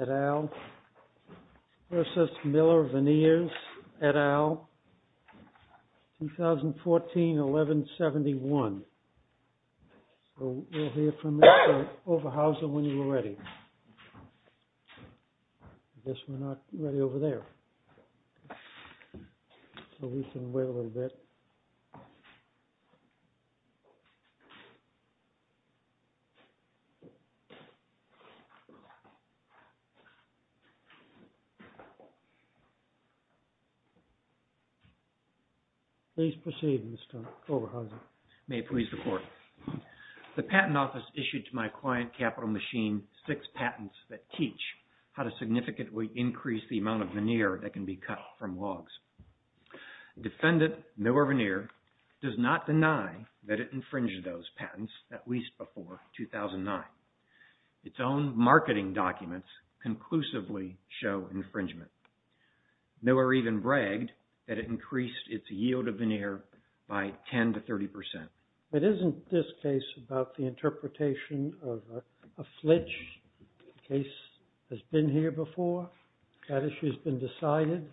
et al. v. Miller Veneers et al. 2014-11-71 The patent office issued to my client, Capital Machine, six patents that teach how to significantly increase the amount of veneer that can be cut from logs. Defendant Miller Veneer does not deny that it infringed those patents, at least before 2009. Its own marketing documents conclusively show infringement. Miller even bragged that it increased its yield of veneer by 10 to 30 percent. It isn't this case about the interpretation of a flitch, the case has been here before, that issue has been decided.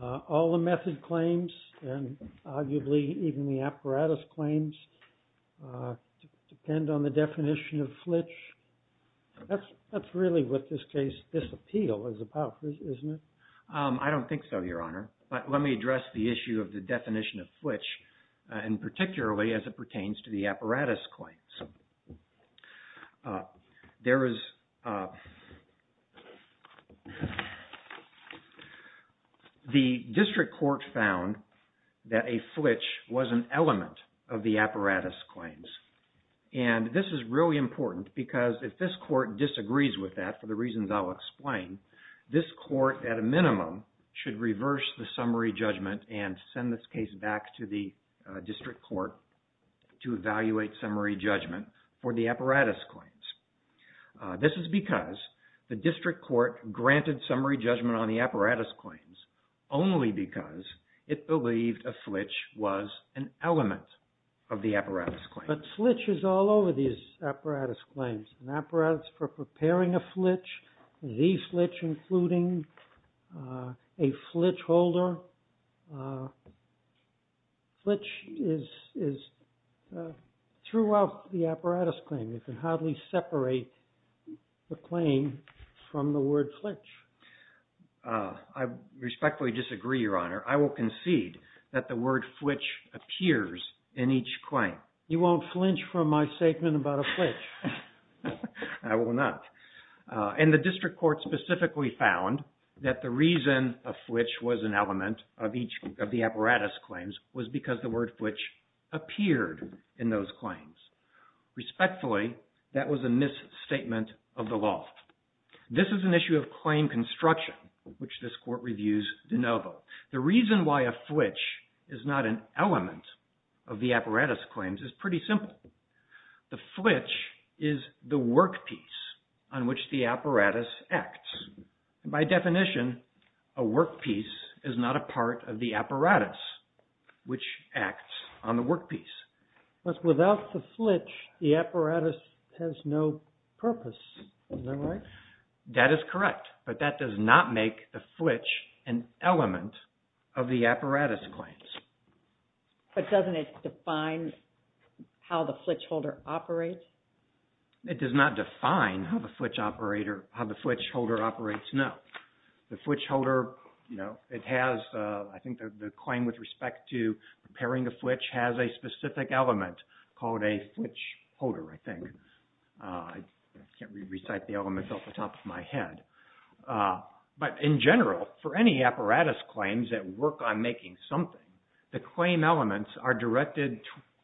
All the method claims and arguably even the apparatus claims depend on the definition of flitch. That's really what this case, this appeal is about, isn't it? I don't think so, Your Honor, but let me address the issue of the definition of flitch and particularly as it pertains to the apparatus claims. There is, the district court found that a flitch was an element of the apparatus claims and this is really important because if this court disagrees with that, for the reasons I'll explain, this court at a minimum should reverse the summary judgment and send this case back to the district court to evaluate summary judgment for the apparatus claims. This is because the district court granted summary judgment on the apparatus claims only because it believed a flitch was an element of the apparatus claims. But flitch is all over these apparatus claims, an apparatus for preparing a flitch, the flitch including a flitch holder. Flitch is throughout the apparatus claim. You can hardly separate the claim from the word flitch. I respectfully disagree, Your Honor. I will concede that the word flitch appears in each claim. You won't flinch from my statement about a flitch. I will not. And the district court specifically found that the reason a flitch was an element of each of the apparatus claims was because the word flitch appeared in those claims. Respectfully, that was a misstatement of the law. This is an issue of claim construction, which this court reviews de novo. The reason why a flitch is not an element of the apparatus claims is pretty simple. The flitch is the workpiece on which the apparatus acts. By definition, a workpiece is not a part of the apparatus, which acts on the workpiece. But without the flitch, the apparatus has no purpose. Is that right? That is correct. But that does not make the flitch an element of the apparatus claims. But doesn't it define how the flitch holder operates? It does not define how the flitch holder operates, no. The flitch holder, you know, it has, I think the claim with respect to repairing a flitch has a specific element called a flitch holder, I think. I can't really recite the element off the top of my head. But in general, for any apparatus claims that work on making something, the claim elements are directed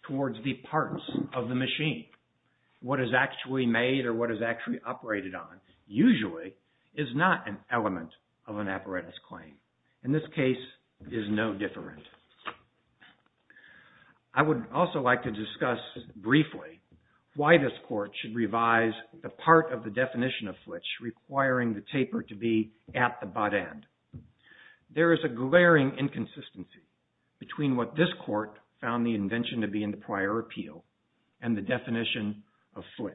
towards the parts of the machine. What is actually made or what is actually operated on usually is not an element of an apparatus claim. In this case, it is no different. I would also like to discuss briefly why this court should revise the part of the definition of flitch requiring the taper to be at the butt end. There is a glaring inconsistency between what this court found the invention to be in the prior appeal and the definition of flitch.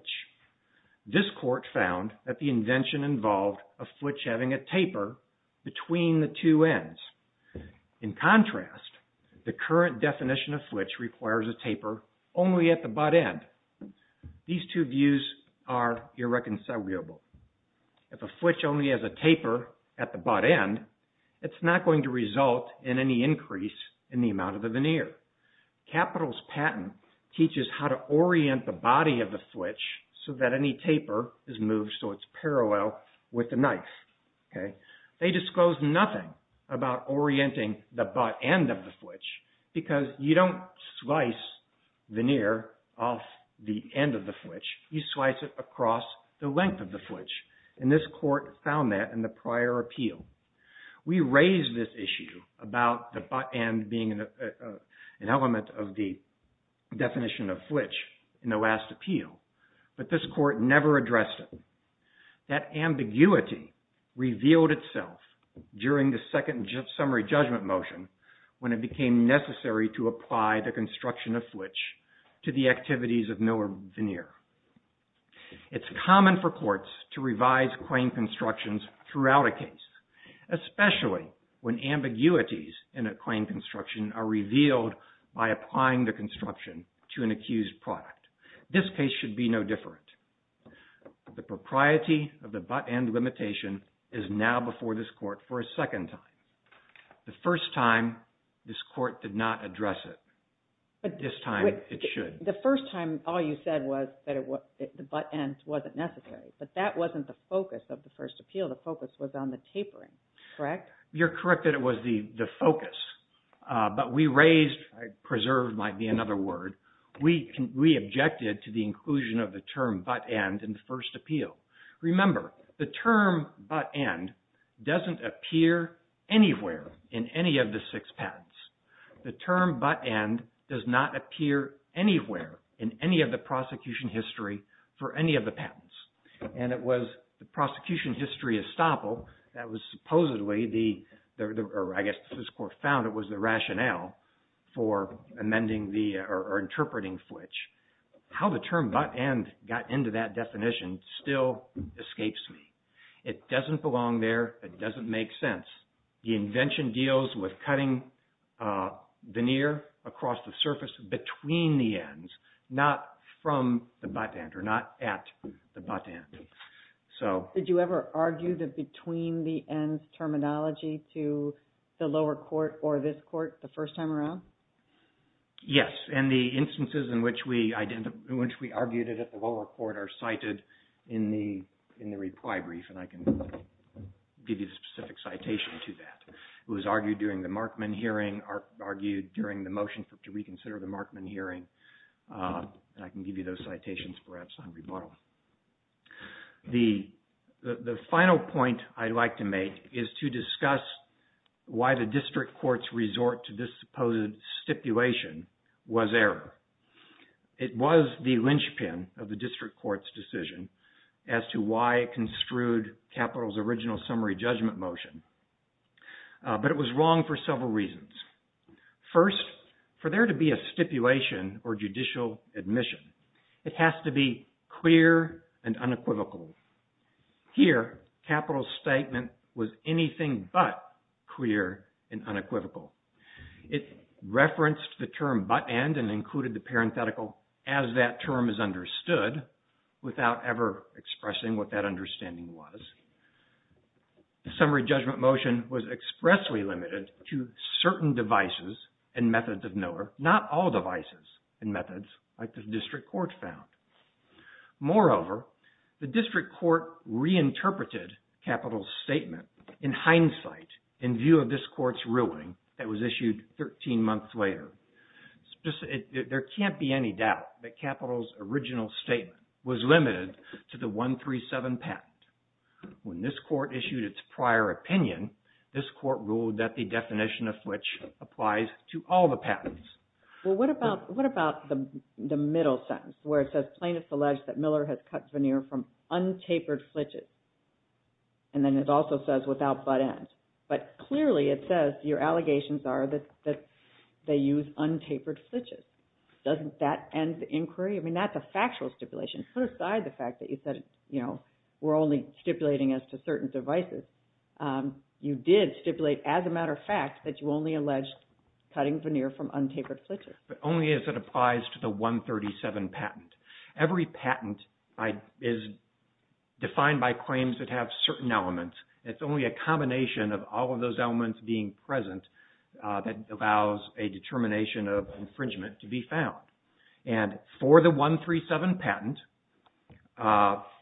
This court found that the invention involved a flitch having a taper between the two ends. In contrast, the current definition of flitch requires a taper only at the butt end. These two views are irreconcilable. If a flitch only has a taper at the butt end, it's not going to result in any increase in the amount of the veneer. Capital's patent teaches how to orient the body of the flitch so that any taper is moved so it's parallel with the knife. They disclose nothing about orienting the butt end of the flitch because you don't slice the veneer off the end of the flitch. You slice it across the length of the flitch, and this court found that in the prior appeal. We raised this issue about the butt end being an element of the definition of flitch in the last appeal, but this court never addressed it. That ambiguity revealed itself during the second summary judgment motion when it became necessary to apply the construction of flitch to the activities of Miller veneer. It's common for courts to revise claim constructions throughout a case, especially when ambiguities in a claim construction are revealed by applying the construction to an accused product. This case should be no different. The propriety of the butt end limitation is now before this court for a second time. The first time, this court did not address it, but this time it should. The first time, all you said was that the butt end wasn't necessary, but that wasn't the focus of the first appeal. The focus was on the tapering, correct? You're correct that it was the focus, but we raised, preserved might be another word, we objected to the inclusion of the term butt end in the first appeal. Remember, the term butt end doesn't appear anywhere in any of the six patents. The term butt end does not appear anywhere in any of the prosecution history for any of the patents. It was the prosecution history estoppel that was supposedly, or I guess this court found it was the rationale for amending or interpreting flitch. How the term butt end got into that definition still escapes me. It doesn't belong there, it doesn't make sense. The invention deals with cutting veneer across the surface between the ends, not from the butt end or not at the butt end. Did you ever argue the between the ends terminology to the lower court or this court the first time around? Yes, and the instances in which we argued it at the lower court are cited in the reply brief and I can give you the specific citation to that. It was argued during the Markman hearing, argued during the motion to reconsider the Markman hearing, and I can give you those citations perhaps on rebuttal. The final point I'd like to make is to discuss why the district court's resort to this supposed stipulation was error. It was the linchpin of the district court's decision as to why it construed capital's original summary judgment motion, but it was wrong for several reasons. First, for there to be a stipulation or judicial admission, it has to be clear and unequivocal. Here capital's statement was anything but clear and unequivocal. It referenced the term butt end and included the parenthetical as that term is understood without ever expressing what that understanding was. The summary judgment motion was expressly limited to certain devices and methods of Miller, not all devices and methods like the district court found. Moreover, the district court reinterpreted capital's statement in hindsight in view of this court's ruling that was issued 13 months later. There can't be any doubt that capital's original statement was limited to the 137 patent. When this court issued its prior opinion, this court ruled that the definition of flitch applies to all the patents. Well, what about the middle sentence where it says plaintiffs allege that Miller has cut veneer from untapered flitches, and then it also says without butt end, but clearly it says your allegations are that they use untapered flitches. Doesn't that end the inquiry? I mean, that's a factual stipulation. Put aside the fact that you said, you know, we're only stipulating as to certain devices. You did stipulate as a matter of fact that you only alleged cutting veneer from untapered flitches. But only as it applies to the 137 patent. Every patent is defined by claims that have certain elements. It's only a combination of all of those elements being present that allows a determination of infringement to be found. And for the 137 patent,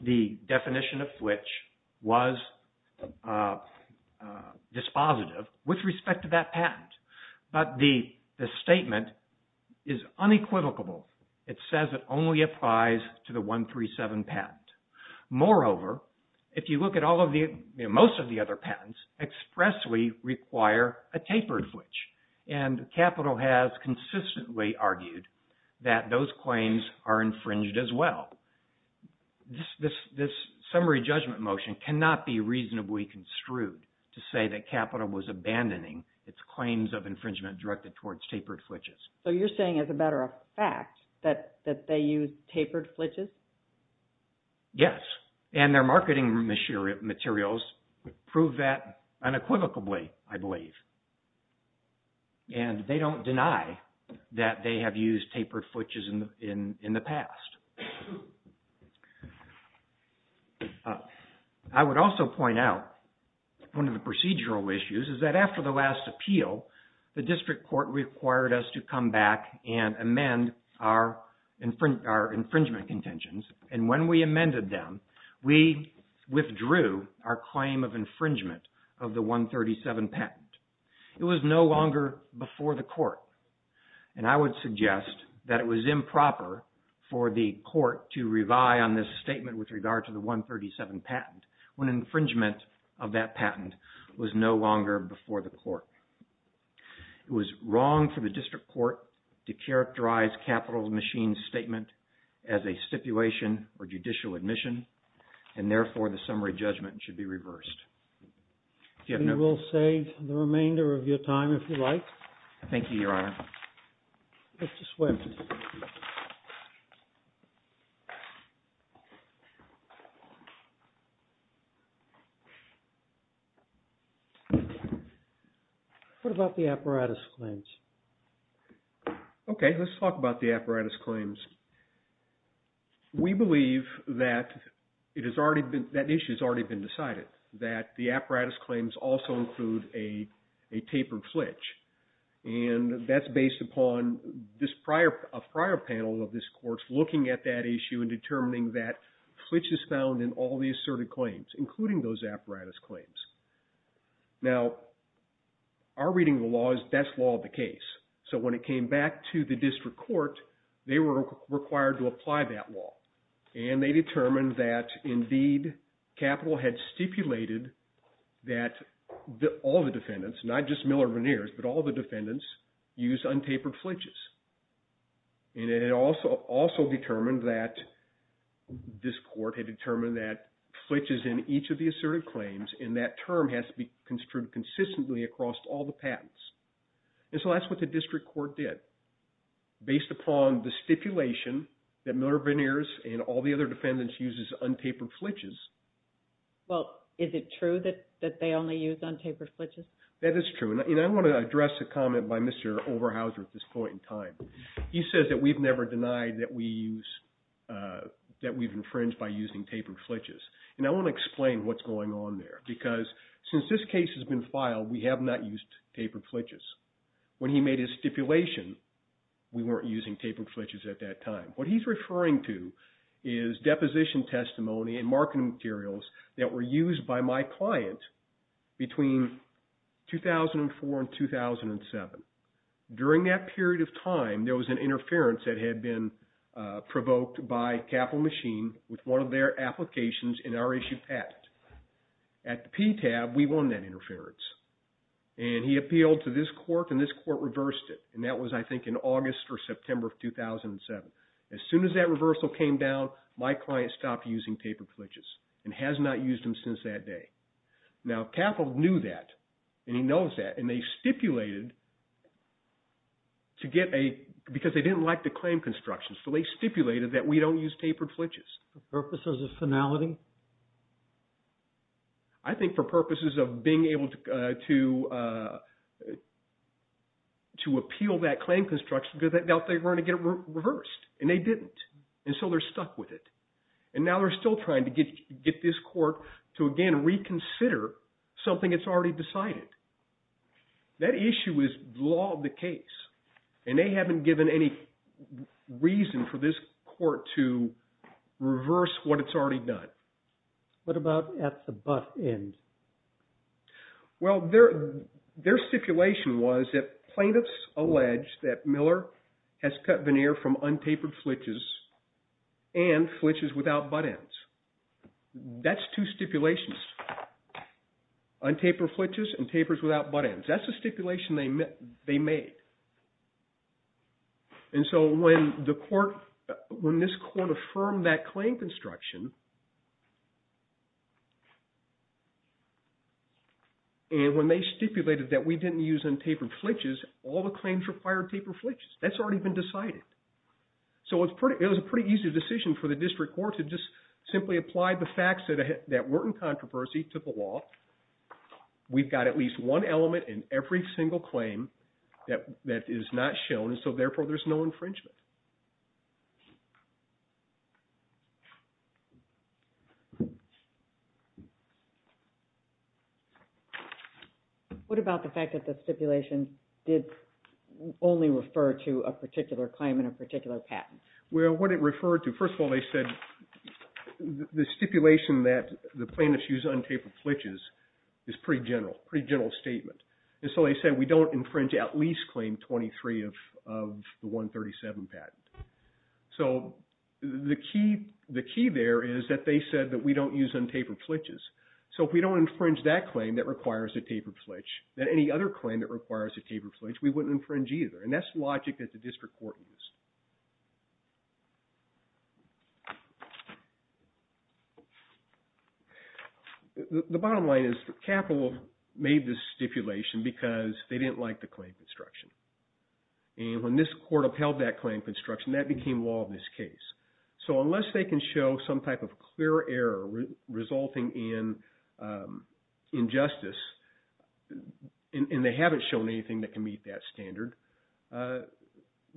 the definition of flitch was dispositive with respect to that patent. But the statement is unequivocal. It says it only applies to the 137 patent. Moreover, if you look at most of the other patents, expressly require a tapered flitch. And Capital has consistently argued that those claims are infringed as well. This summary judgment motion cannot be reasonably construed to say that Capital was abandoning its claims of infringement directed towards tapered flitches. So you're saying as a matter of fact that they used tapered flitches? Yes. And their marketing materials prove that unequivocally, I believe. And they don't deny that they have used tapered flitches in the past. I would also point out one of the procedural issues is that after the last appeal, the court came back and amended our infringement contentions. And when we amended them, we withdrew our claim of infringement of the 137 patent. It was no longer before the court. And I would suggest that it was improper for the court to revie on this statement with regard to the 137 patent when infringement of that patent was no longer before the court. It was wrong for the district court to characterize Capital's machine statement as a stipulation or judicial admission. And therefore, the summary judgment should be reversed. We will save the remainder of your time if you like. Thank you, Your Honor. Let's just wait a minute. What about the apparatus claims? Okay. Let's talk about the apparatus claims. We believe that that issue has already been decided, that the apparatus claims also include a tapered flitch. And that's based upon a prior panel of this court looking at that issue and determining that flitch is found in all the asserted claims, including those apparatus claims. Now, our reading of the law is that's law of the case. So when it came back to the district court, they were required to apply that law. And they determined that, indeed, Capital had stipulated that all the defendants, not just Miller-Vaniers, but all the defendants use untapered flitches. And it also determined that this court had determined that flitches in each of the asserted claims in that term has to be construed consistently across all the patents. And so that's what the district court did. Based upon the stipulation that Miller-Vaniers and all the other defendants uses untapered flitches. Well, is it true that they only use untapered flitches? That is true. And I want to address a comment by Mr. Overhauser at this point in time. He says that we've never denied that we've infringed by using tapered flitches. And I want to explain what's going on there. Because since this case has been filed, we have not used tapered flitches. When he made his stipulation, we weren't using tapered flitches at that time. What he's referring to is deposition testimony and marketing materials that were used by my client between 2004 and 2007. During that period of time, there was an interference that had been provoked by Capital Machine with one of their applications in our issue patent. At the PTAB, we won that interference. And he appealed to this court, and this court reversed it. And that was, I think, in August or September of 2007. As soon as that reversal came down, my client stopped using tapered flitches and has not used them since that day. Now, Capital knew that, and he knows that. And they stipulated to get a – because they didn't like the claim construction. So they stipulated that we don't use tapered flitches. For purposes of finality? I think for purposes of being able to appeal that claim construction because they were going to get it reversed. And they didn't. And so they're stuck with it. And now they're still trying to get this court to, again, reconsider something that's already decided. That issue is law of the case. And they haven't given any reason for this court to reverse what it's already done. What about at the bus end? Well, their stipulation was that plaintiffs allege that Miller has cut veneer from untapered flitches and flitches without butt ends. That's two stipulations, untapered flitches and tapers without butt ends. That's the stipulation they made. And so when the court – when this court affirmed that claim construction, and when they stipulated that we didn't use untapered flitches, all the claims required tapered flitches. That's already been decided. So it was a pretty easy decision for the district court to just simply apply the facts that weren't in controversy to the law. We've got at least one element in every single claim that is not shown. So therefore, there's no infringement. What about the fact that the stipulation did only refer to a particular claim and a particular patent? Well, what it referred to – first of all, they said the stipulation that the plaintiffs use untapered flitches is pretty general. Pretty general statement. And so they said we don't infringe at least claim 23 of the 137 patent. So the key there is that they said that we don't use untapered flitches. So if we don't infringe that claim that requires a tapered flitch, then any other claim that requires a tapered flitch, we wouldn't infringe either. And that's logic that the district court used. The bottom line is that Capital made this stipulation because they didn't like the claim construction. And when this court upheld that claim construction, that became law in this case. So unless they can show some type of clear error resulting in injustice, and they haven't shown anything that can meet that standard,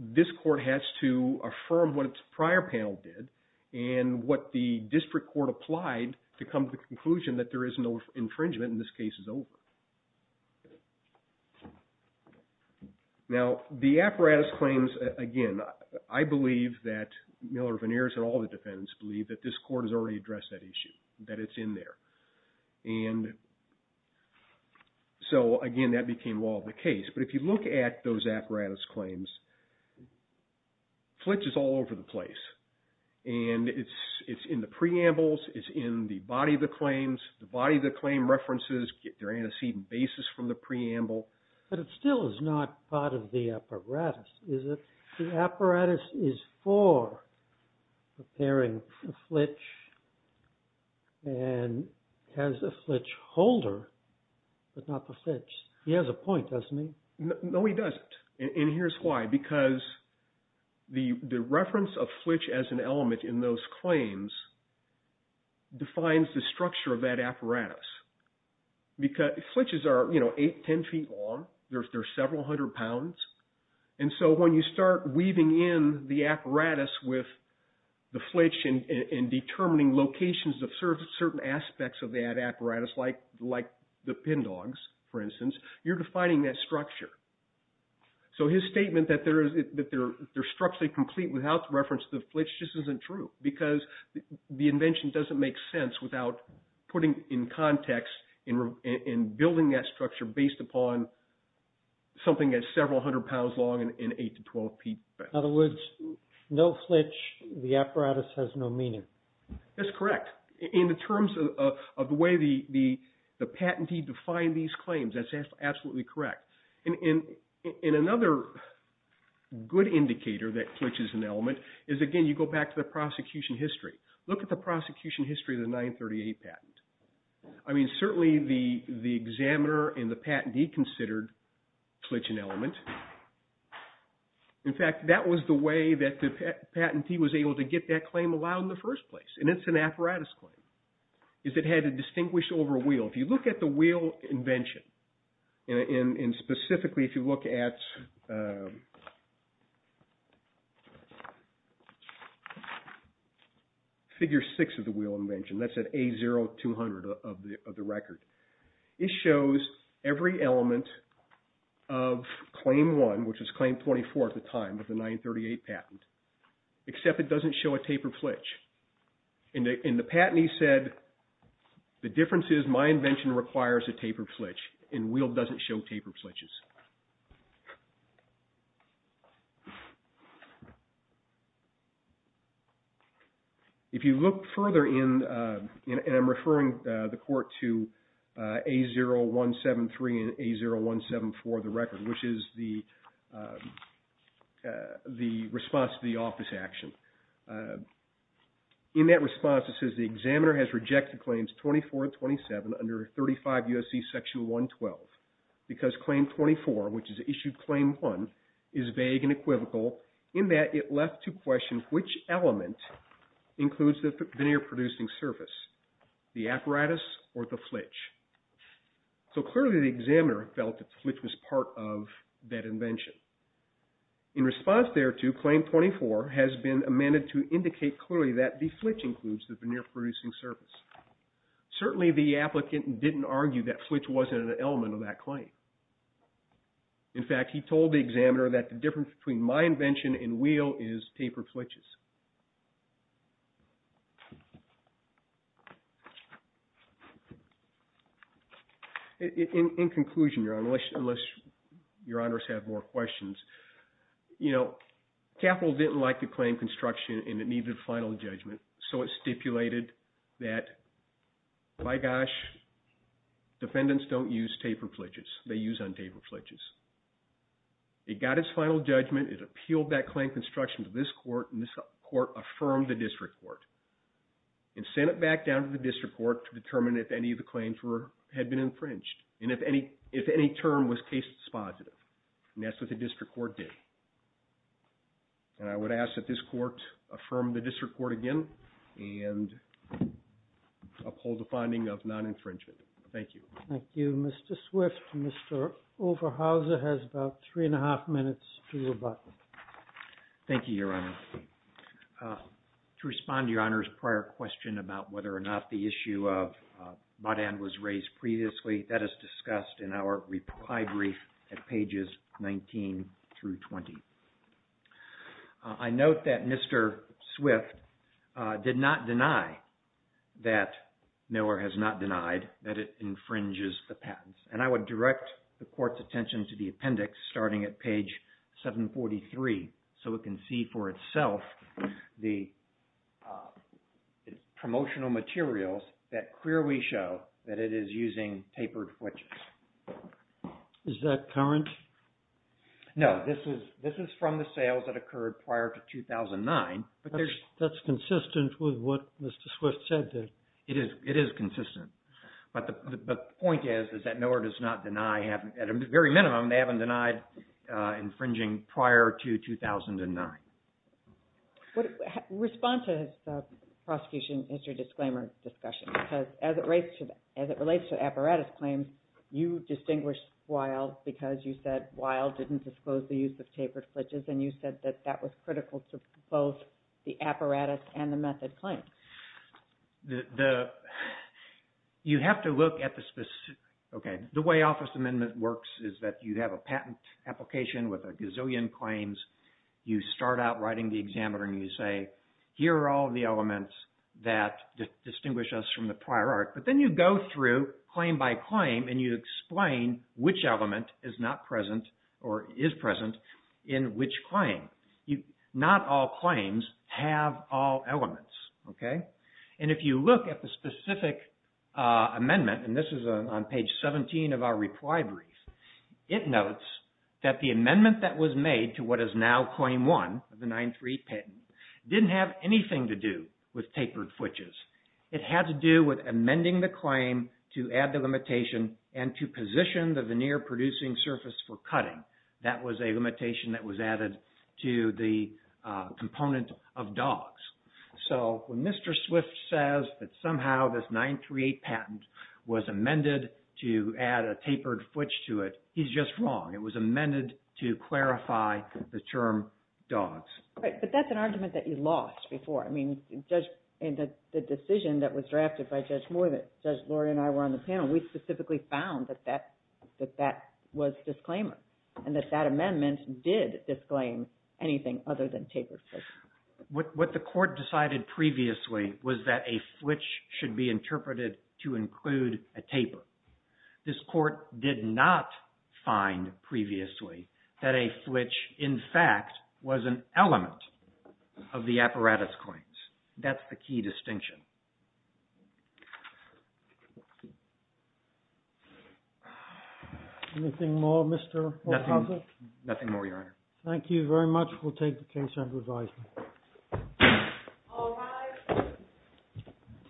this court has to affirm what its prior panel did and what the district court applied to come to the conclusion that there is no infringement and this case is over. Now, the apparatus claims, again, I believe that Miller, Vaniers, and all the defendants believe that this court has already addressed that issue, that it's in there. And so, again, that became law of the case. But if you look at those apparatus claims, flitch is all over the place. And it's in the preambles, it's in the body of the claims, the body of the claim references get their antecedent basis from the preamble. But it still is not part of the apparatus, is it? The apparatus is for preparing a flitch and has a flitch holder, but not the flitch. He has a point, doesn't he? No, he doesn't. And here's why. The reference of flitch as an element in those claims defines the structure of that apparatus. Flitches are eight, ten feet long. They're several hundred pounds. And so when you start weaving in the apparatus with the flitch and determining locations of certain aspects of that apparatus, like the pin dogs, for instance, you're defining that structure. So his statement that they're structurally complete without reference to the flitch just isn't true. Because the invention doesn't make sense without putting in context and building that structure based upon something that's several hundred pounds long and eight to twelve feet. In other words, no flitch, the apparatus has no meaning. That's correct. In the terms of the way the patentee defined these claims, that's absolutely correct. And another good indicator that flitch is an element is, again, you go back to the prosecution history. Look at the prosecution history of the 938 patent. I mean, certainly the examiner and the patentee considered flitch an element. In fact, that was the way that the patentee was able to get that claim allowed in the first place. And it's an apparatus claim. It had to distinguish over a wheel. If you look at the wheel invention, and specifically if you look at figure six of the wheel invention, that's at A0200 of the record, it shows every element of claim one, which was claim 24 at the time of the 938 patent, except it doesn't show a tapered flitch. And the patentee said, the difference is my invention requires a tapered flitch, and wheel doesn't show tapered flitches. If you look further in, and I'm referring the court to A0173 and A0174 of the record, which is the response to the office action. In that response it says, the examiner has rejected claims 24 and 27 under 35 U.S.C. section 112, because claim 24, which is issued claim one, is vague and equivocal in that it left to question which element includes the veneer producing surface, the apparatus or the flitch. So clearly the examiner felt that the flitch was part of that invention. In response thereto, claim 24 has been amended to indicate clearly that the flitch includes the veneer producing surface. Certainly the applicant didn't argue that flitch wasn't an element of that claim. In fact, he told the examiner that the difference between my invention and wheel is tapered flitches. In conclusion, unless your honors have more questions, capital didn't like the claim construction and it needed a final judgment. So it stipulated that, by gosh, defendants don't use tapered flitches, they use untapered flitches. It got its final judgment, it appealed that claim construction to this court, and this court affirmed the district court, and sent it back down to the district court to determine if any of the claims had been infringed, and if any term was case dispositive. And that's what the district court did. And I would ask that this court affirm the district court again and uphold the finding of non-infringement. Thank you. Thank you. Mr. Swift, Mr. Overhauser has about three and a half minutes to rebut. Thank you, Your Honor. To respond to Your Honor's prior question about whether or not the issue of Mott-Ann was raised previously, that is discussed in our reply brief at pages 19 through 20. I note that Mr. Swift did not deny that Miller has not denied that it infringes the patents. And I would direct the court's attention to the appendix starting at page 743, so it can see for itself the promotional materials that clearly show that it is using tapered flitches. Is that current? No, this is from the sales that occurred prior to 2009. But that's consistent with what Mr. Swift said. It is consistent. But the point is that Miller does not deny, at the very minimum, they haven't denied infringing prior to 2009. Respond to the prosecution history disclaimer discussion, because as it relates to apparatus claims, you distinguished Weil because you said Weil didn't disclose the use of tapered flitches, and you said that that was critical to both the apparatus and the method claims. The way Office Amendment works is that you have a patent application with a gazillion claims. You start out writing the examiner and you say, here are all the elements that distinguish us from the prior art. But then you go through claim by claim and you explain which element is not present or is present in which claim. Not all claims have all elements. And if you look at the specific amendment, and this is on page 17 of our reply brief, it notes that the amendment that was made to what is now claim one of the 938 patent didn't have anything to do with tapered flitches. It had to do with amending the claim to add the limitation and to position the veneer producing surface for cutting. That was a limitation that was added to the component of dogs. So when Mr. Swift says that somehow this 938 patent was amended to add a tapered flitch to it, he's just wrong. It was amended to clarify the term dogs. Right, but that's an argument that you lost before. I mean, the decision that was drafted by Judge Moore that Judge Lori and I were on the panel, we specifically found that that was disclaimer and that that amendment did disclaim anything other than tapered flitches. What the court decided previously was that a flitch should be interpreted to include a taper. This court did not find previously that a flitch, in fact, was an element of the apparatus claims. That's the key distinction. Anything more, Mr. Popovic? Nothing more, Your Honor. Thank you very much. We'll take the case under advisement.